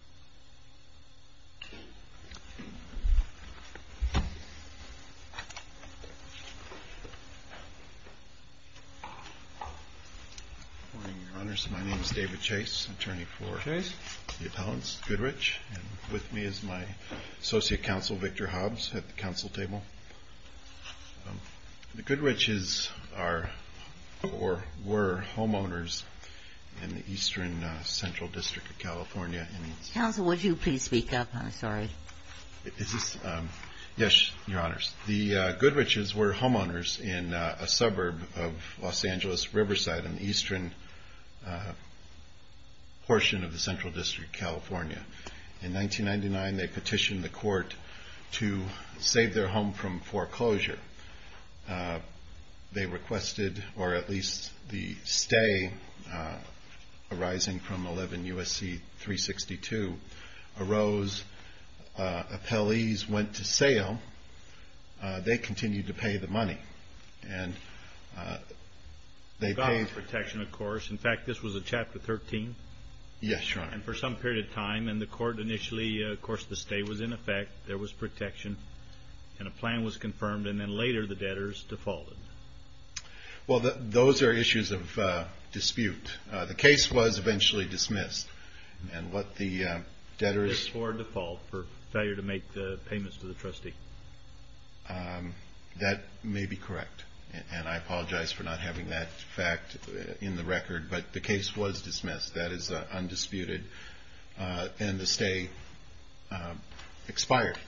Good morning, Your Honors. My name is David Chase, attorney for the appellants, Goodrich. With me is my associate counsel, Victor Hobbs, at the counsel table. The Goodrichs are, or counsel, would you please speak up? I'm sorry. Yes, Your Honors. The Goodrichs were homeowners in a suburb of Los Angeles, Riverside, in the eastern portion of the Central District, California. In 1999, they petitioned the court to save their home from foreclosure. They requested, or at least the stay arising from 111 U.S.C. 362, arose, appellees went to sale, they continued to pay the money, and they paid... Without protection, of course. In fact, this was a Chapter 13. Yes, Your Honor. And for some period of time, and the court initially, of course, the stay was in effect, there was protection, and a plan was confirmed, and then later the debtors defaulted. Well, those are issues of dispute. The case was eventually dismissed, and what the debtors... It's for default, for failure to make the payments to the trustee. That may be correct, and I apologize for not having that fact in the record, but the case was dismissed. That is undisputed, and the stay expired.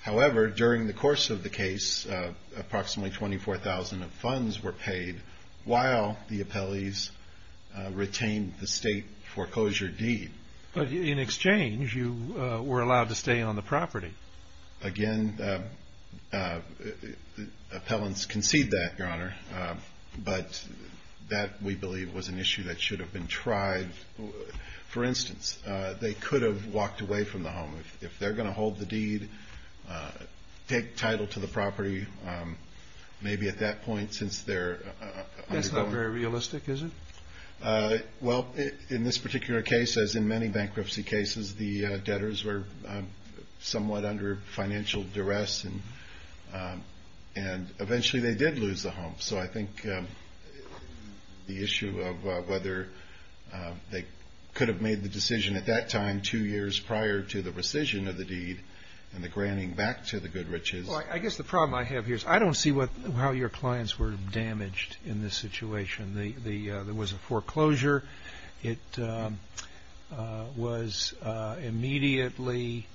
However, during the course of the case, approximately 24,000 of funds were paid while the appellees retained the state foreclosure deed. But in exchange, you were allowed to stay on the property. Again, appellants concede that, Your Honor, but that, we believe, was an issue that should have been tried. For instance, they could have walked away from the home. If they're entitled to the property, maybe at that point, since they're... That's not very realistic, is it? Well, in this particular case, as in many bankruptcy cases, the debtors were somewhat under financial duress, and eventually they did lose the home. So I think the issue of whether they could have made the decision at that time, two years prior to the rescission of the deed and the granting back to the good riches... Well, I guess the problem I have here is I don't see how your clients were damaged in this situation. There was a foreclosure. It was immediately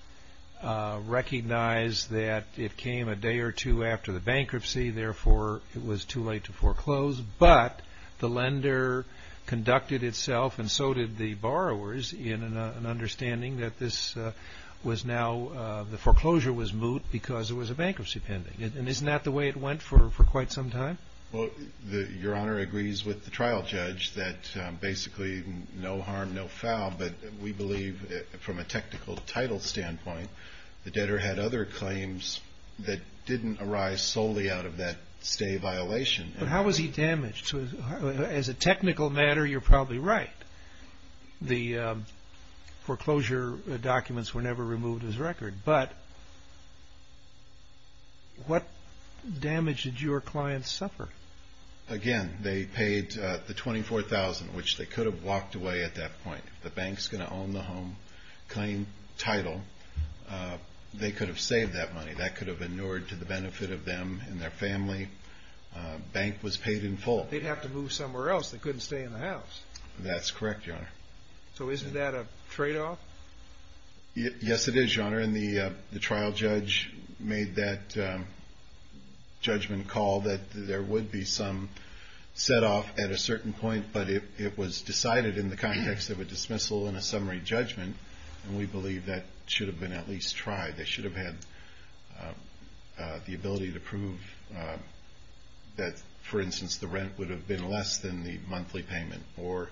recognized that it came a day or two after the bankruptcy. Therefore, it was too late to foreclose, but the lender conducted itself, and so did the borrowers, in an understanding that this was now... The foreclosure was moot because it was a bankruptcy pending. And isn't that the way it went for quite some time? Well, Your Honor agrees with the trial judge that basically no harm, no foul, but we believe from a technical title standpoint, the debtor had other claims that didn't arise solely out of that stay violation. But how was he damaged? As a technical matter, you're probably right. The foreclosure documents were never removed as a record, but what damage did your clients suffer? Again, they paid the $24,000, which they could have walked away at that point. The bank's going to own the home claim title. They could have saved that money. That could have inured to the benefit of them and their family. Bank was paid in full. They'd have to move somewhere else. They couldn't stay in the house. That's correct, Your Honor. So isn't that a trade-off? Yes, it is, Your Honor. And the trial judge made that judgment call that there would be some set-off at a certain point, but it was decided in the context of a dismissal and a summary judgment, and we believe that should have been at least tried. They should have had the ability to prove that, for instance, the rent would have been less than the monthly payment, or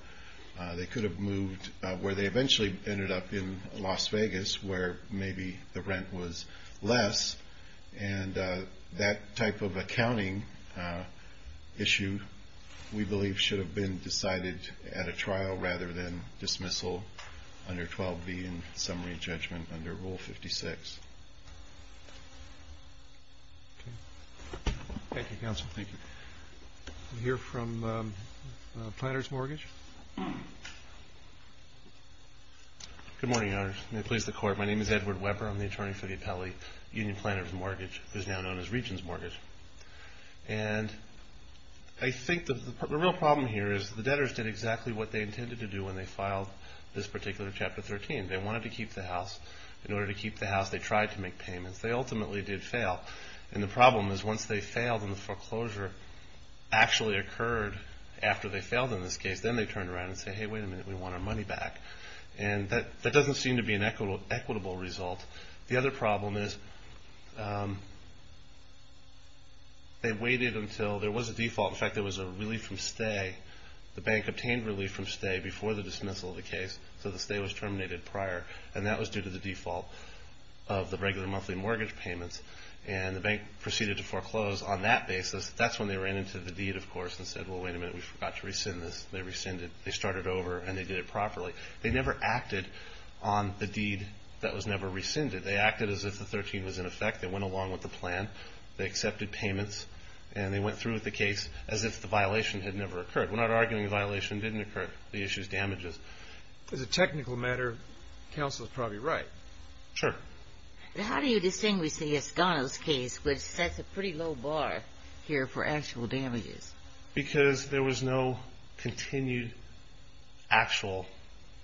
they could have moved where they eventually ended up in Las Vegas, where maybe the rent was less. And that type of accounting issue, we believe, should have been decided at a trial rather than dismissal under 12B and summary judgment under Rule 56. Thank you, Counsel. Thank you. We'll hear from the Planner's Mortgage. Good morning, Your Honor. May it please the Court. My name is Edward Weber. I'm the attorney for the appellee, Union Planner's Mortgage. It is now known as Regent's Mortgage. And I think the real problem here is the debtors did exactly what they intended to do when they filed this particular Chapter 13. They wanted to keep the house. In order to keep the house, they tried to make payments. They ultimately did fail. And the problem is once they failed and the foreclosure actually occurred after they failed in this case, then they turned around and said, hey, wait a minute, we want our money back. And that doesn't seem to be an equitable result. The other problem is they waited until there was a default. In fact, there was a relief from stay. The bank obtained relief from stay before the dismissal of the case. So the stay was terminated prior. And that was due to the default of the regular monthly mortgage payments. And the bank proceeded to foreclose on that basis. That's when they ran into the deed, of course, and said, well, wait a minute, we forgot to rescind this. They rescinded. They started over and they did it properly. They never acted on the deed that was never rescinded. They acted as if the 13 was in effect. They went along with the plan. They accepted payments. And they went through with the case as if the violation had never occurred. We're not arguing the violation didn't occur. The issue is damages. As a technical matter, counsel is probably right. Sure. How do you distinguish the Escondo's case, which sets a pretty low bar here for actual damages? Because there was no continued actual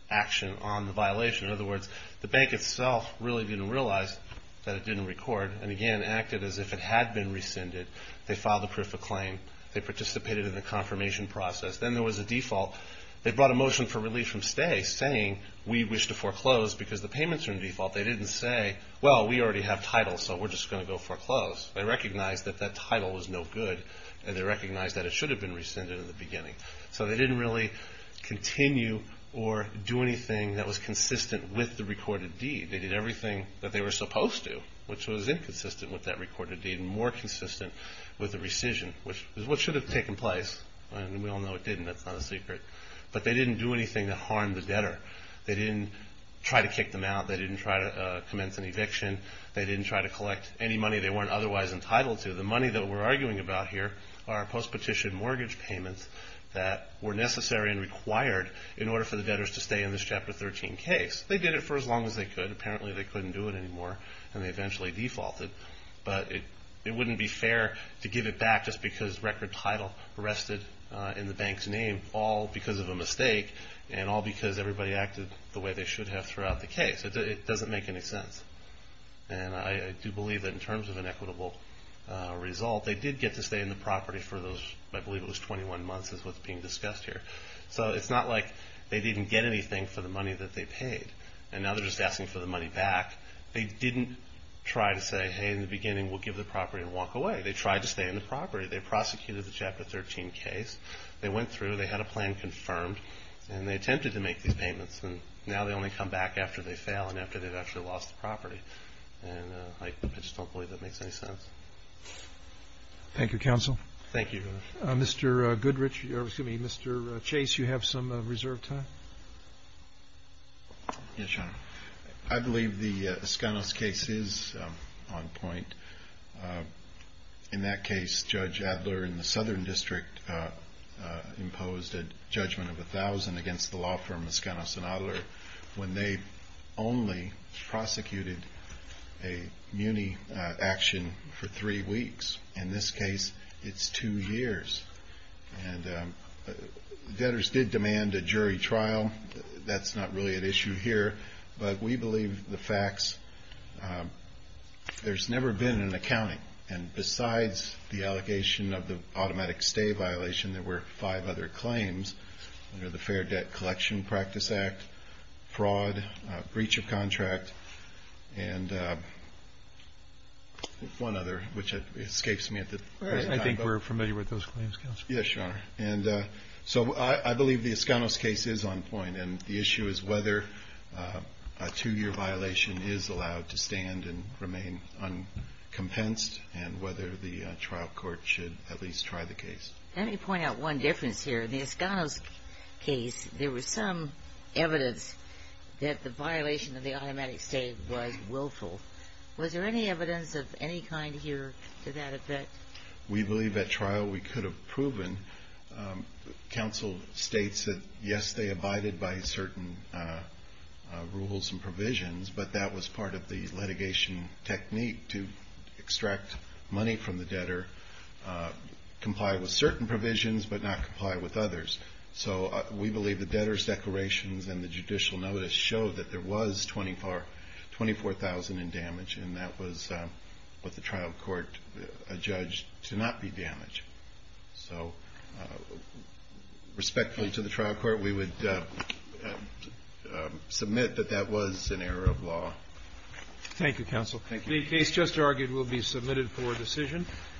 action on the violation. In other words, the bank itself really didn't realize that it didn't record. And again, acted as if it had been rescinded. They filed a proof of claim. They participated in the confirmation process. Then there was a default. They brought a motion for relief from stay saying, we wish to foreclose because the payments are in default. They didn't say, well, we already have title, so we're just going to go foreclose. They recognized that that title was no good. And they recognized that it should have been rescinded in the beginning. So they didn't really continue or do anything that was consistent with the recorded deed. They did everything that they were supposed to, which was inconsistent with that recorded deed and more consistent with the rescission, which is what should have taken place. And we all know it didn't. That's not a secret. But they didn't do anything to harm the debtor. They didn't try to kick them out. They didn't try to commence an eviction. They didn't try to collect any money they weren't otherwise entitled to. The money that we're arguing about here are post-petition mortgage payments that were necessary and required in order for the debtors to stay in this Chapter 13 case. They did it for as long as they could. Apparently, they couldn't do it anymore. And they eventually defaulted. But it wouldn't be fair to give it back just because record title rested in the bank's name, all because of a mistake and all because everybody acted the way they should have throughout the case. It doesn't make any sense. And I do believe that in terms of an equitable result, they did get to stay in the property for those, I believe it was 21 months, is what's being discussed here. So it's not like they didn't get anything for the money that they paid. And now they're just asking for the money back. They didn't try to say, hey, in the beginning, we'll give the property and walk away. They tried to stay in the property. They prosecuted the Chapter 13 case. They went through. They had a plan confirmed. And they attempted to make these payments. And now they only come back after they fail and after they've actually lost the property. And I just don't believe that makes any sense. Thank you, counsel. Thank you. Mr. Goodrich, excuse me, Mr. Chase, you have some reserve time? Yes, Your Honor. I believe the Escanos case is on point. In that case, Judge Adler in the case, when they only prosecuted a muni action for three weeks. In this case, it's two years. And debtors did demand a jury trial. That's not really an issue here. But we believe the facts. There's never been an accounting. And besides the allegation of the automatic stay violation, there were five other claims under the Fair Debt Collection Practice Act, fraud, breach of contract, and one other, which escapes me at the time. I think we're familiar with those claims, counsel. Yes, Your Honor. And so I believe the Escanos case is on point. And the issue is whether a two-year violation is allowed to stand and remain uncompensed and whether the trial court should at least try the case. Let me point out one difference here. In the Escanos case, there was some evidence that the violation of the automatic stay was willful. Was there any evidence of any kind here to that effect? We believe at trial we could have proven. Counsel states that, yes, they abided by certain rules and provisions, but that was part of the litigation technique to extract money from the debtor, comply with certain provisions, but not comply with others. So we believe the debtor's declarations and the judicial notice showed that there was 24,000 in damage, and that was what the trial court adjudged to not be damage. So respectfully to the trial court, we would submit that that was an error of law. Thank you, counsel. Thank you. The case just argued will be submitted for decision.